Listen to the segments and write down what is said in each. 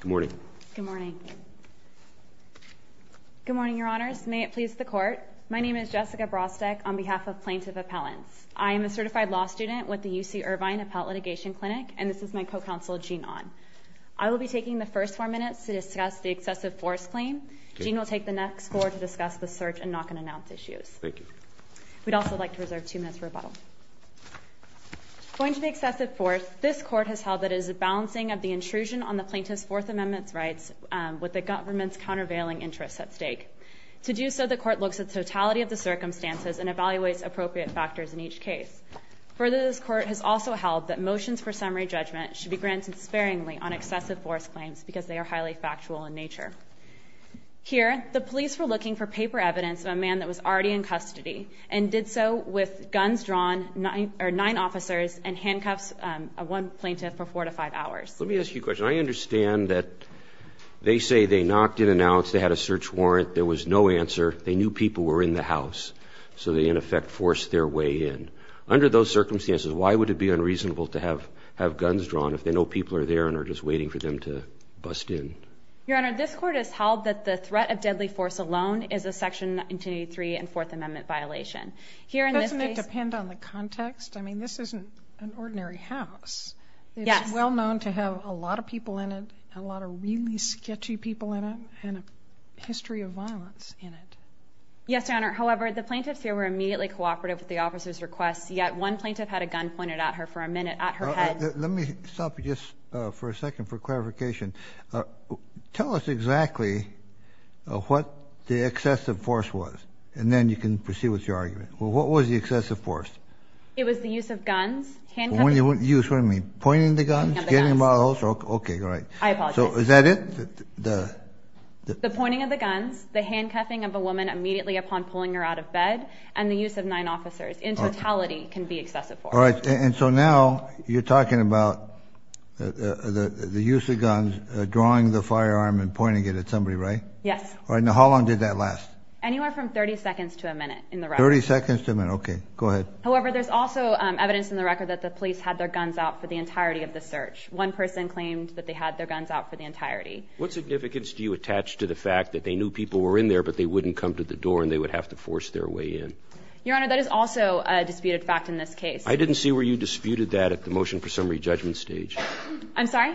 Good morning. Good morning. Good morning, Your Honors. May it please the Court. My name is Jessica Brostek on behalf of Plaintiff Appellants. I am a certified law student with the UC Irvine Appellate Litigation Clinic, and this is my co-counsel, Gene Ahn. I will be taking the first four minutes to discuss the excessive force claim. Gene will take the next four to discuss the search and knock-and-announce issues. Thank you. We'd also like to reserve two minutes for rebuttal. Pointing to the excessive force, this Court has held that it is a balancing of the intrusion on the plaintiff's Fourth Amendment rights with the government's countervailing interests at stake. To do so, the Court looks at the totality of the circumstances and evaluates appropriate factors in each case. Further, this Court has also held that motions for summary judgment should be granted sparingly on excessive force claims because they are highly factual in nature. Here, the police were looking for paper evidence of a man that was already in custody and did so with guns drawn, nine officers, and handcuffs on one plaintiff for four to five hours. Let me ask you a question. I understand that they say they knocked and announced, they had a search warrant, there was no answer, they knew people were in the house, so they, in effect, forced their way in. Under those circumstances, why would it be unreasonable to have guns drawn if they know people are there and are just waiting for them to bust in? Your Honor, this Court has held that the threat of deadly force alone is a Section 1983 and Fourth Amendment violation. Doesn't it depend on the context? I mean, this isn't an ordinary house. It's well known to have a lot of people in it, a lot of really sketchy people in it, and a history of violence in it. Yes, Your Honor. However, the plaintiffs here were immediately cooperative with the officers' requests, yet one plaintiff had a gun pointed at her for a minute at her head. Let me stop you just for a second for clarification. Tell us exactly what the excessive force was, and then you can proceed with your argument. What was the excessive force? It was the use of guns, handcuffing. Use, what do you mean? Pointing the guns? Pointing of the guns. Okay, all right. I apologize. Is that it? The pointing of the guns, the handcuffing of a woman immediately upon pulling her out of bed, and the use of nine officers in totality can be excessive force. All right, and so now you're talking about the use of guns, drawing the firearm and pointing it at somebody, right? Yes. All right, now how long did that last? Anywhere from 30 seconds to a minute in the record. 30 seconds to a minute, okay. Go ahead. However, there's also evidence in the record that the police had their guns out for the entirety of the search. One person claimed that they had their guns out for the entirety. What significance do you attach to the fact that they knew people were in there, but they wouldn't come to the door and they would have to force their way in? Your Honor, that is also a disputed fact in this case. I didn't see where you disputed that at the motion for summary judgment stage. I'm sorry?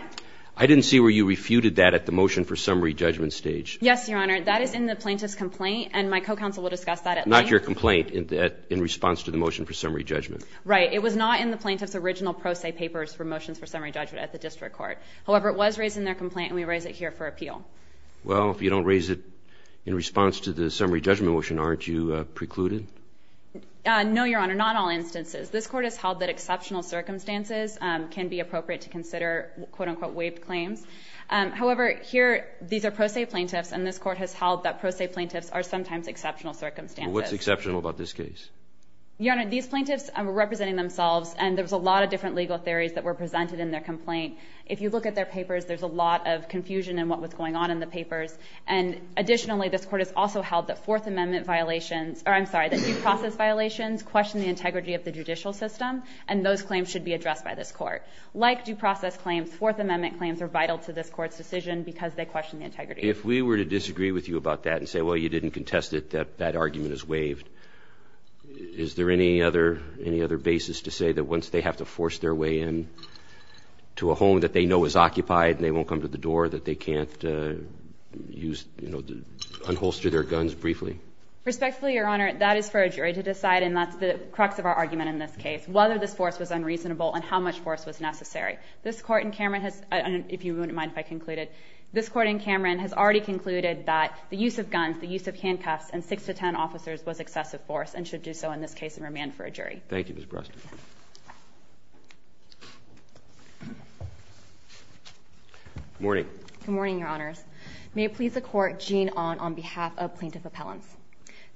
I didn't see where you refuted that at the motion for summary judgment stage. Yes, Your Honor. That is in the plaintiff's complaint, and my co-counsel will discuss that at length. Not your complaint in response to the motion for summary judgment. Right. It was not in the plaintiff's original pro se papers for motions for summary judgment at the district court. However, it was raised in their complaint, and we raise it here for appeal. Well, if you don't raise it in response to the summary judgment motion, aren't you precluded? No, Your Honor, not all instances. This Court has held that exceptional circumstances can be appropriate to consider quote, unquote, waived claims. However, here these are pro se plaintiffs, and this Court has held that pro se plaintiffs are sometimes exceptional circumstances. Well, what's exceptional about this case? Your Honor, these plaintiffs were representing themselves, and there was a lot of different legal theories that were presented in their complaint. If you look at their papers, there's a lot of confusion in what was going on in the papers. And additionally, this Court has also held that Fourth Amendment violations or I'm sorry, that due process violations question the integrity of the judicial system, and those claims should be addressed by this Court. Like due process claims, Fourth Amendment claims are vital to this Court's decision because they question the integrity. If we were to disagree with you about that and say, well, you didn't contest it, that argument is waived, is there any other basis to say that once they have to force their way in to a home that they know is occupied and they won't come to the door, that they can't use, you know, unholster their guns briefly? Respectfully, Your Honor, that is for a jury to decide, and that's the crux of our argument in this case, whether this force was unreasonable and how much force was necessary. This Court in Cameron has, if you wouldn't mind if I concluded, this Court in Cameron has already concluded that the use of guns, the use of handcuffs, and 6 to 10 officers was excessive force and should do so in this case and remand for a jury. Thank you, Ms. Bresler. Good morning. Good morning, Your Honors. May it please the Court, Jean Ahn, on behalf of Plaintiff Appellants.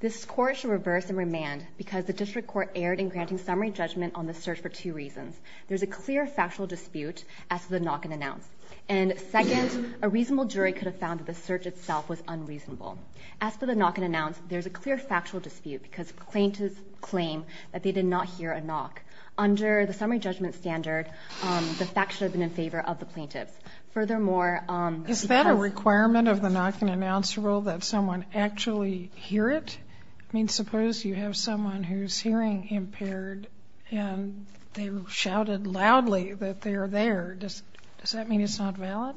This Court should reverse and remand because the district court erred in granting summary judgment on the search for two reasons. There is a clear factual dispute as to the knock-and-announce. And second, a reasonable jury could have found that the search itself was unreasonable. As for the knock-and-announce, there is a clear factual dispute because plaintiffs claim that they did not hear a knock. Under the summary judgment standard, the facts should have been in favor of the plaintiffs. Furthermore, because of the knock-and-announce rule, that someone actually hear it? I mean, suppose you have someone who is hearing impaired and they shouted loudly that they are there. Does that mean it's not valid?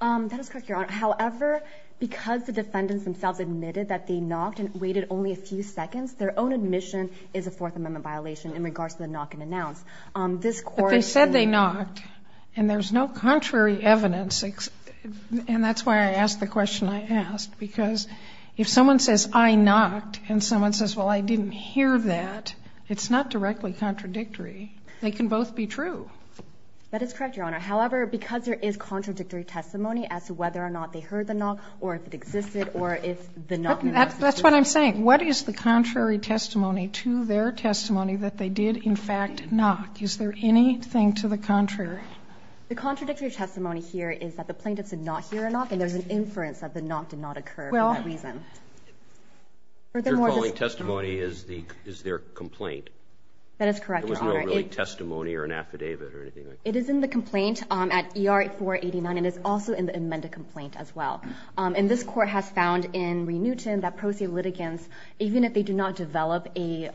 That is correct, Your Honor. However, because the defendants themselves admitted that they knocked and waited only a few seconds, their own admission is a Fourth Amendment violation in regards to the knock-and-announce. This Court in Cameron. But they said they knocked. And there is no contrary evidence. And that's why I asked the question I asked. Because if someone says, I knocked, and someone says, well, I didn't hear that, it's not directly contradictory. They can both be true. That is correct, Your Honor. However, because there is contradictory testimony as to whether or not they heard the knock or if it existed or if the knock-and-announce was true. That's what I'm saying. What is the contrary testimony to their testimony that they did, in fact, knock? Is there anything to the contrary? The contradictory testimony here is that the plaintiffs did not hear a knock. And there's an inference that the knock did not occur for that reason. Well, what you're calling testimony is their complaint. That is correct, Your Honor. It was not really testimony or an affidavit or anything like that. It is in the complaint at ER-489. And it's also in the amended complaint as well. And this Court has found in Re-Newton that pro se litigants, even if they do not develop a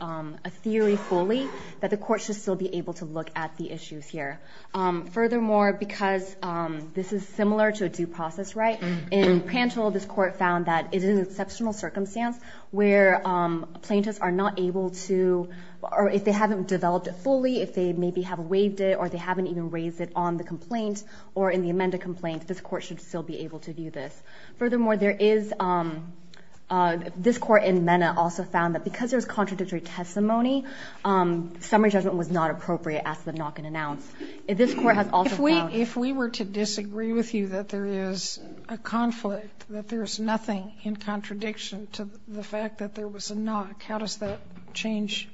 theory fully, that the Court should still be able to look at the issues here. Furthermore, because this is similar to a due process right, in Pantel this Court found that it is an exceptional circumstance where plaintiffs are not able to, or if they haven't developed it fully, if they maybe have waived it or they haven't even raised it on the complaint or in the amended complaint, this Court should still be able to do this. Furthermore, there is, this Court in Mena also found that because there's contradictory testimony, summary judgment was not appropriate as to the knock and announce. This Court has also found. If we were to disagree with you that there is a conflict, that there is nothing in contradiction to the fact that there was a knock, how does that change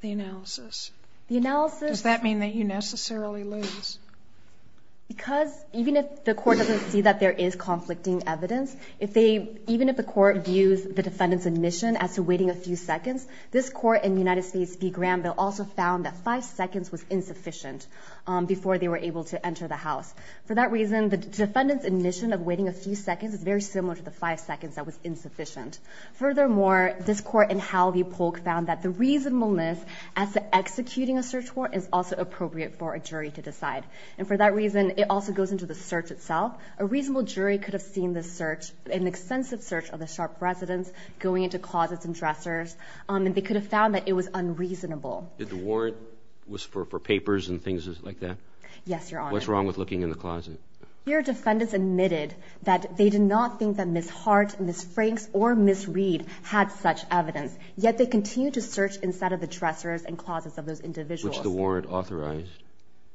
the analysis? The analysis. Does that mean that you necessarily lose? Because even if the Court doesn't see that there is conflicting evidence, even if the Court views the defendant's admission as to waiting a few seconds, this Court in the United States v. Granville also found that five seconds was insufficient before they were able to enter the house. For that reason, the defendant's admission of waiting a few seconds is very similar to the five seconds that was insufficient. Furthermore, this Court in Howell v. Polk found that the reasonableness as to executing a search warrant is also appropriate for a jury to decide. And for that reason, it also goes into the search itself. A reasonable jury could have seen this search, an extensive search of the Sharp residence going into closets and dressers, and they could have found that it was unreasonable. Did the warrant was for papers and things like that? Yes, Your Honor. What's wrong with looking in the closet? Your defendants admitted that they did not think that Ms. Hart, Ms. Franks, or Ms. Reed had such evidence. Yet they continued to search inside of the dressers and closets of those individuals. Which the warrant authorized.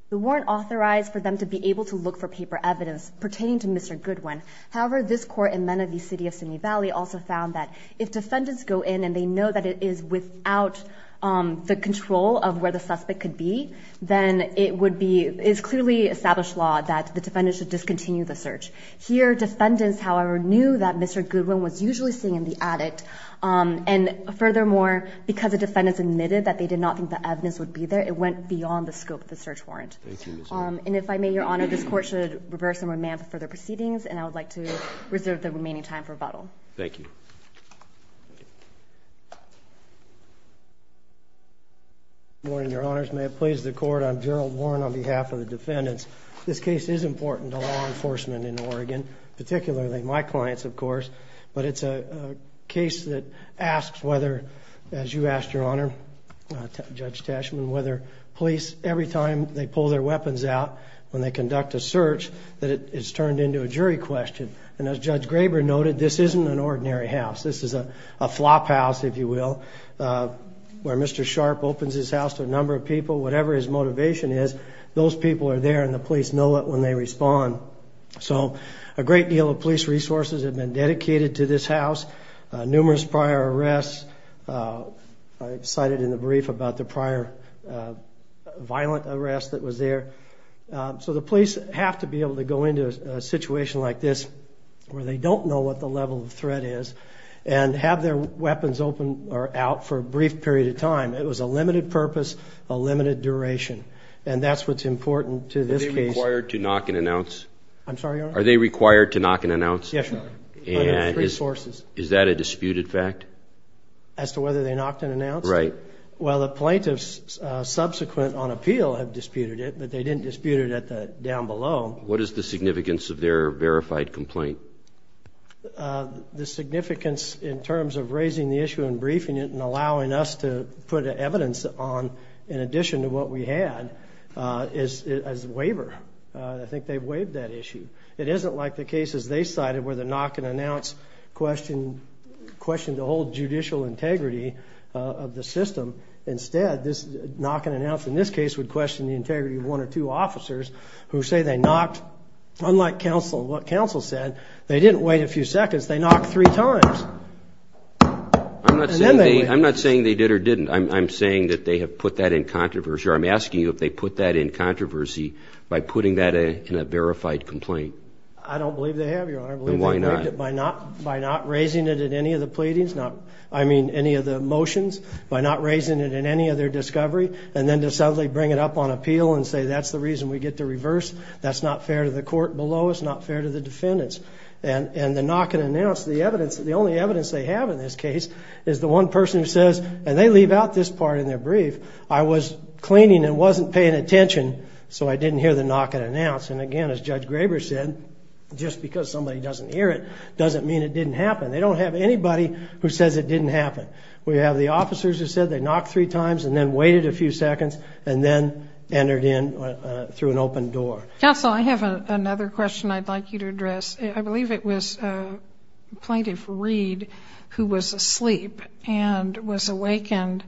The warrant authorized for them to be able to look for paper evidence pertaining to Mr. Goodwin. However, this Court in Menendee City of Simi Valley also found that if defendants go in and they know that it is without the control of where the suspect could be, then it would be – it is clearly established law that the defendant should discontinue the search. Here, defendants, however, knew that Mr. Goodwin was usually sitting in the attic. And furthermore, because the defendants admitted that they did not think the evidence would be there, it went beyond the scope of the search warrant. Thank you, Ms. Hart. And if I may, Your Honor, this Court should reverse and remand for further proceedings, and I would like to reserve the remaining time for rebuttal. Thank you. Good morning, Your Honors. May it please the Court. I'm Gerald Warren on behalf of the defendants. This case is important to law enforcement in Oregon, particularly my clients, of course, but it's a case that asks whether, as you asked, Your Honor, Judge Tashman, whether police, every time they pull their weapons out, when they conduct a search, that it's turned into a jury question. And as Judge Graber noted, this isn't an ordinary house. This is a flop house, if you will, where Mr. Sharp opens his house to a number of people, whatever his motivation is, those people are there, and the police know it when they respond. So a great deal of police resources have been dedicated to this house, numerous prior arrests. I cited in the brief about the prior violent arrest that was there. So the police have to be able to go into a situation like this, where they don't know what the level of threat is, and have their weapons open or out for a brief period of time. It was a limited purpose, a limited duration, and that's what's important to this case. Are they required to knock and announce? I'm sorry, Your Honor? Are they required to knock and announce? Yes, Your Honor. And is that a disputed fact? As to whether they knocked and announced it? Right. Well, the plaintiffs subsequent on appeal have disputed it, but they didn't dispute it down below. What is the significance of their verified complaint? The significance in terms of raising the issue and briefing it and allowing us to put evidence on in addition to what we had as a waiver. I think they waived that issue. It isn't like the cases they cited where the knock and announce questioned the whole judicial integrity of the system. Instead, this knock and announce in this case would question the integrity of one or two officers who say they knocked. Unlike what counsel said, they didn't wait a few seconds. They knocked three times. I'm not saying they did or didn't. I'm saying that they have put that in controversy, or I'm asking you if they put that in controversy by putting that in a verified complaint. I don't believe they have, Your Honor. Then why not? By not raising it in any of the pleadings, I mean any of the motions, by not raising it in any of their discovery, and then to suddenly bring it up on appeal and say that's the reason we get to reverse, that's not fair to the court below, it's not fair to the defendants. And the knock and announce, the only evidence they have in this case is the one person who says, and they leave out this part in their brief, I was cleaning and wasn't paying attention so I didn't hear the knock and announce. And, again, as Judge Graber said, just because somebody doesn't hear it doesn't mean it didn't happen. They don't have anybody who says it didn't happen. We have the officers who said they knocked three times and then waited a few seconds and then entered in through an open door. Counsel, I have another question I'd like you to address. I believe it was Plaintiff Reed who was asleep and was awakened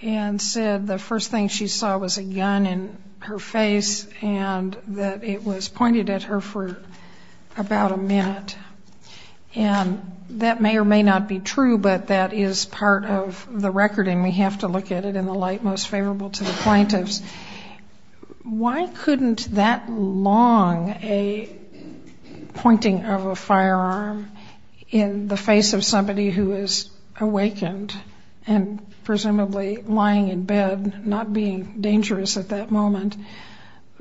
and said the first thing she saw was a gun in her face and that it was pointed at her for about a minute. And that may or may not be true, but that is part of the record and we have to look at it in the light most favorable to the plaintiffs. Why couldn't that long a pointing of a firearm in the face of somebody who is awakened and presumably lying in bed, not being dangerous at that moment,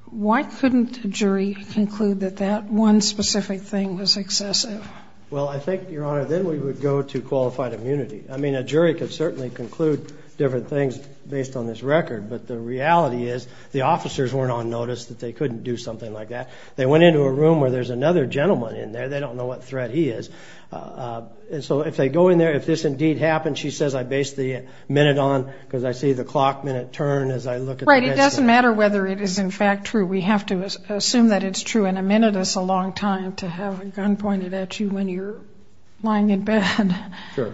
why couldn't a jury conclude that that one specific thing was excessive? Well, I think, Your Honor, then we would go to qualified immunity. I mean, a jury could certainly conclude different things based on this record, but the reality is the officers weren't on notice that they couldn't do something like that. They went into a room where there's another gentleman in there. They don't know what threat he is. And so if they go in there, if this indeed happened, she says, I base the minute on because I see the clock minute turn as I look at it. Right. It doesn't matter whether it is in fact true. We have to assume that it's true and a minute is a long time to have a gun pointed at you when you're lying in bed. Sure.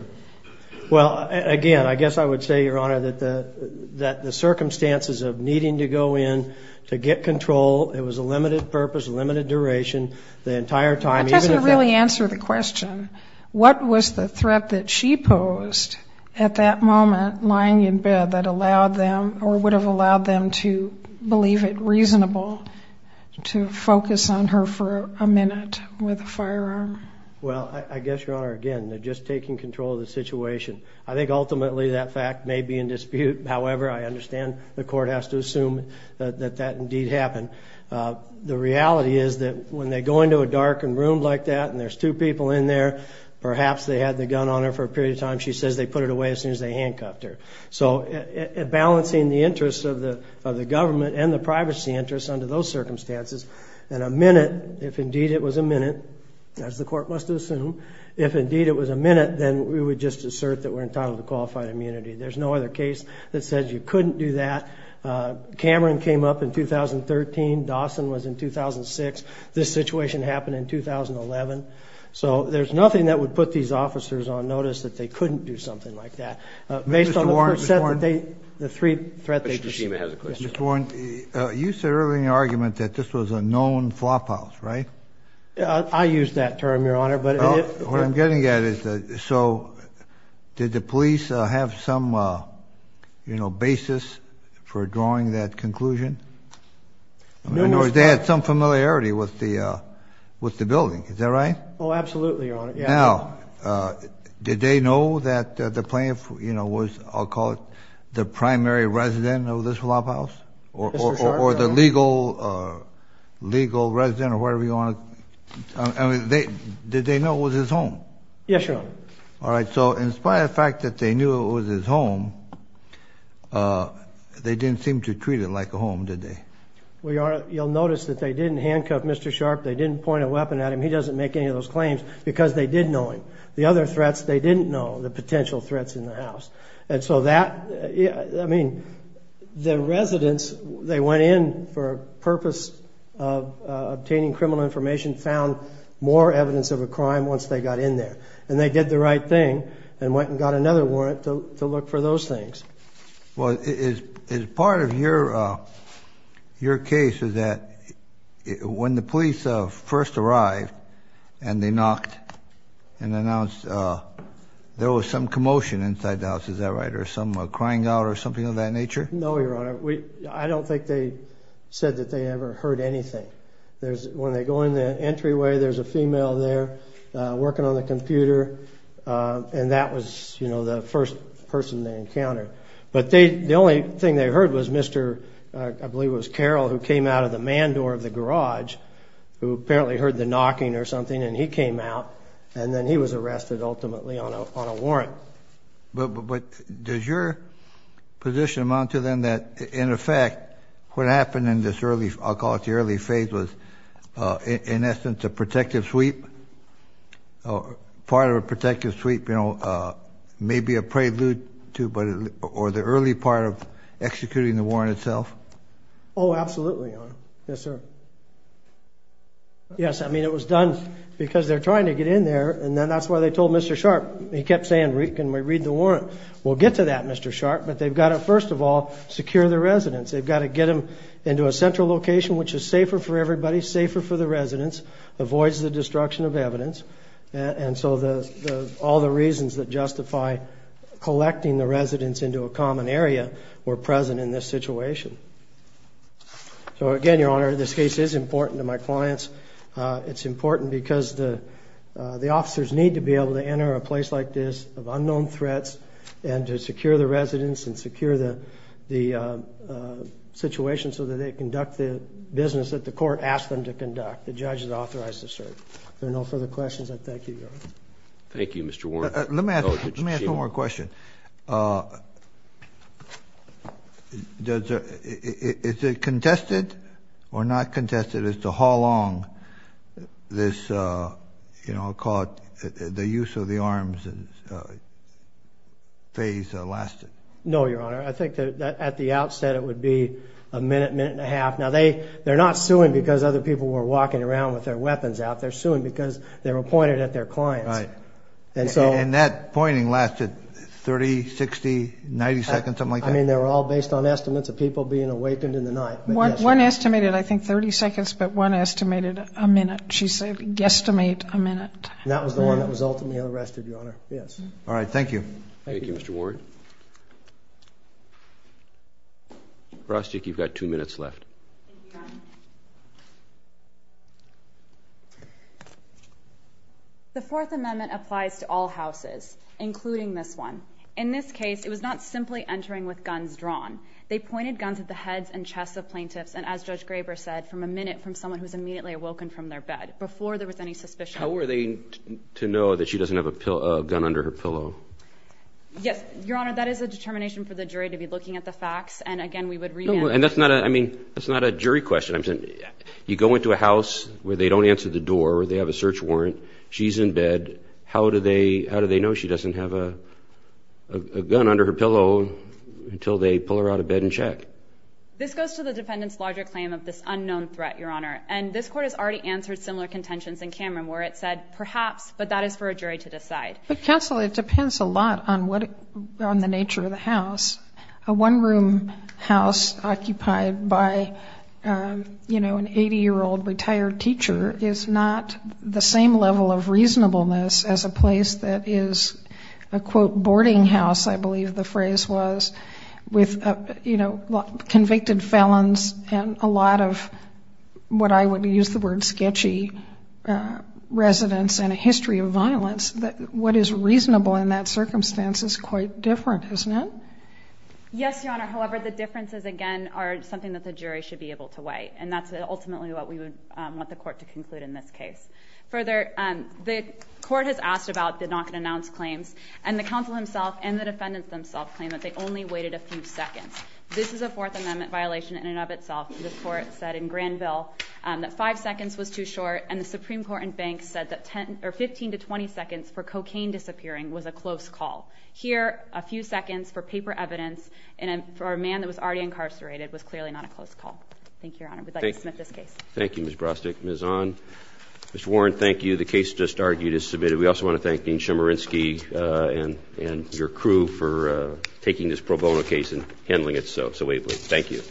Well, again, I guess I would say, Your Honor, that the circumstances of needing to go in to get control, it was a limited purpose, limited duration, the entire time. That doesn't really answer the question. What was the threat that she posed at that moment lying in bed that allowed them or would have allowed them to believe it reasonable to focus on her for a minute with a firearm? Well, I guess, Your Honor, again, they're just taking control of the situation. I think ultimately that fact may be in dispute. However, I understand the court has to assume that that indeed happened. The reality is that when they go into a darkened room like that and there's two people in there, perhaps they had the gun on her for a period of time. She says they put it away as soon as they handcuffed her. So balancing the interests of the government and the privacy interests under those circumstances and a minute, if indeed it was a minute, as the court must assume, if indeed it was a minute, then we would just assert that we're entitled to qualified immunity. There's no other case that says you couldn't do that. Cameron came up in 2013. Dawson was in 2006. This situation happened in 2011. So there's nothing that would put these officers on notice that they couldn't do something like that. Mr. Warren, Mr. Warren. Based on the first set that they, the three threats they posed. Mr. Shima has a question. Mr. Warren, you said earlier in your argument that this was a known flop house, right? I used that term, Your Honor. What I'm getting at is that so did the police have some, you know, basis for drawing that conclusion? I mean, or they had some familiarity with the building. Is that right? Oh, absolutely, Your Honor. Now, did they know that the plaintiff, you know, was, I'll call it, the primary resident of this flop house? Or the legal resident or whatever you want to, I mean, did they know it was his home? Yes, Your Honor. All right. So in spite of the fact that they knew it was his home, they didn't seem to treat it like a home, did they? Well, Your Honor, you'll notice that they didn't handcuff Mr. Sharp. They didn't point a weapon at him. He doesn't make any of those claims because they did know him. The other threats they didn't know, the potential threats in the house. And so that, I mean, the residents, they went in for a purpose of obtaining criminal information, found more evidence of a crime once they got in there. And they did the right thing and went and got another warrant to look for those things. Well, is part of your case is that when the police first arrived and they knocked and announced there was some commotion inside the house, is that right? Or some crying out or something of that nature? No, Your Honor. I don't think they said that they ever heard anything. When they go in the entryway, there's a female there working on the computer. And that was, you know, the first person they encountered. But the only thing they heard was Mr., I believe it was Carol, who came out of the man door of the garage, who apparently heard the knocking or something, and he came out, and then he was arrested ultimately on a warrant. But does your position amount to then that, in effect, what happened in this early, I'll call it the early phase, was, in essence, a protective sweep? Part of a protective sweep, you know, maybe a prelude to or the early part of executing the warrant itself? Oh, absolutely, Your Honor. Yes, sir. Yes, I mean, it was done because they're trying to get in there, and then that's why they told Mr. Sharp. He kept saying, can we read the warrant? Well, get to that, Mr. Sharp. But they've got to, first of all, secure the residence. They've got to get them into a central location, which is safer for everybody, safer for the residence, avoids the destruction of evidence. And so all the reasons that justify collecting the residence into a common area were present in this situation. So, again, Your Honor, this case is important to my clients. It's important because the officers need to be able to enter a place like this of unknown threats and to secure the residence and secure the situation so that they conduct the business that the court asked them to conduct. The judge is authorized to serve. If there are no further questions, I thank you, Your Honor. Thank you, Mr. Warren. Let me ask one more question. Is it contested or not contested as to how long this, you know, I'll call it the use of the arms phase lasted? No, Your Honor. I think that at the outset it would be a minute, minute and a half. Now, they're not suing because other people were walking around with their weapons out. They're suing because they were pointed at their clients. And that pointing lasted 30, 60, 90 seconds, something like that? I mean, they were all based on estimates of people being awakened in the night. One estimated, I think, 30 seconds, but one estimated a minute. She said guesstimate a minute. And that was the one that was ultimately arrested, Your Honor. Yes. All right. Thank you. Thank you, Mr. Warren. Rostick, you've got two minutes left. Thank you, Your Honor. The Fourth Amendment applies to all houses, including this one. In this case, it was not simply entering with guns drawn. They pointed guns at the heads and chests of plaintiffs and, as Judge Graber said, from a minute from someone who was immediately awoken from their bed, before there was any suspicion. How were they to know that she doesn't have a gun under her pillow? Yes. Your Honor, that is a determination for the jury to be looking at the facts. And, again, we would read that. And that's not a jury question. You go into a house where they don't answer the door or they have a search warrant, she's in bed, how do they know she doesn't have a gun under her pillow until they pull her out of bed and check? This goes to the defendant's larger claim of this unknown threat, Your Honor. And this Court has already answered similar contentions in Cameron, where it said, perhaps, but that is for a jury to decide. But, Counsel, it depends a lot on the nature of the house. A one-room house occupied by, you know, an 80-year-old retired teacher is not the same level of reasonableness as a place that is a, quote, boarding house, I believe the phrase was, with, you know, convicted felons and a lot of what I would use the word sketchy residents and a history of violence. What is reasonable in that circumstance is quite different, isn't it? Yes, Your Honor. However, the differences, again, are something that the jury should be able to weigh. And that's ultimately what we would want the Court to conclude in this case. Further, the Court has asked about the not-going-to-announce claims, and the Counsel himself and the defendants themselves claim that they only waited a few seconds. This is a Fourth Amendment violation in and of itself. The Court said in Granville that five seconds was too short, and the Supreme Court and banks said that 15 to 20 seconds for cocaine disappearing was a close call. Here, a few seconds for paper evidence for a man that was already incarcerated was clearly not a close call. Thank you, Your Honor. We'd like to submit this case. Thank you, Ms. Brostick. Ms. Ahn. Mr. Warren, thank you. The case just argued is submitted. We also want to thank Dean Chemerinsky and your crew for taking this pro bono case and handling it so ably. Thank you.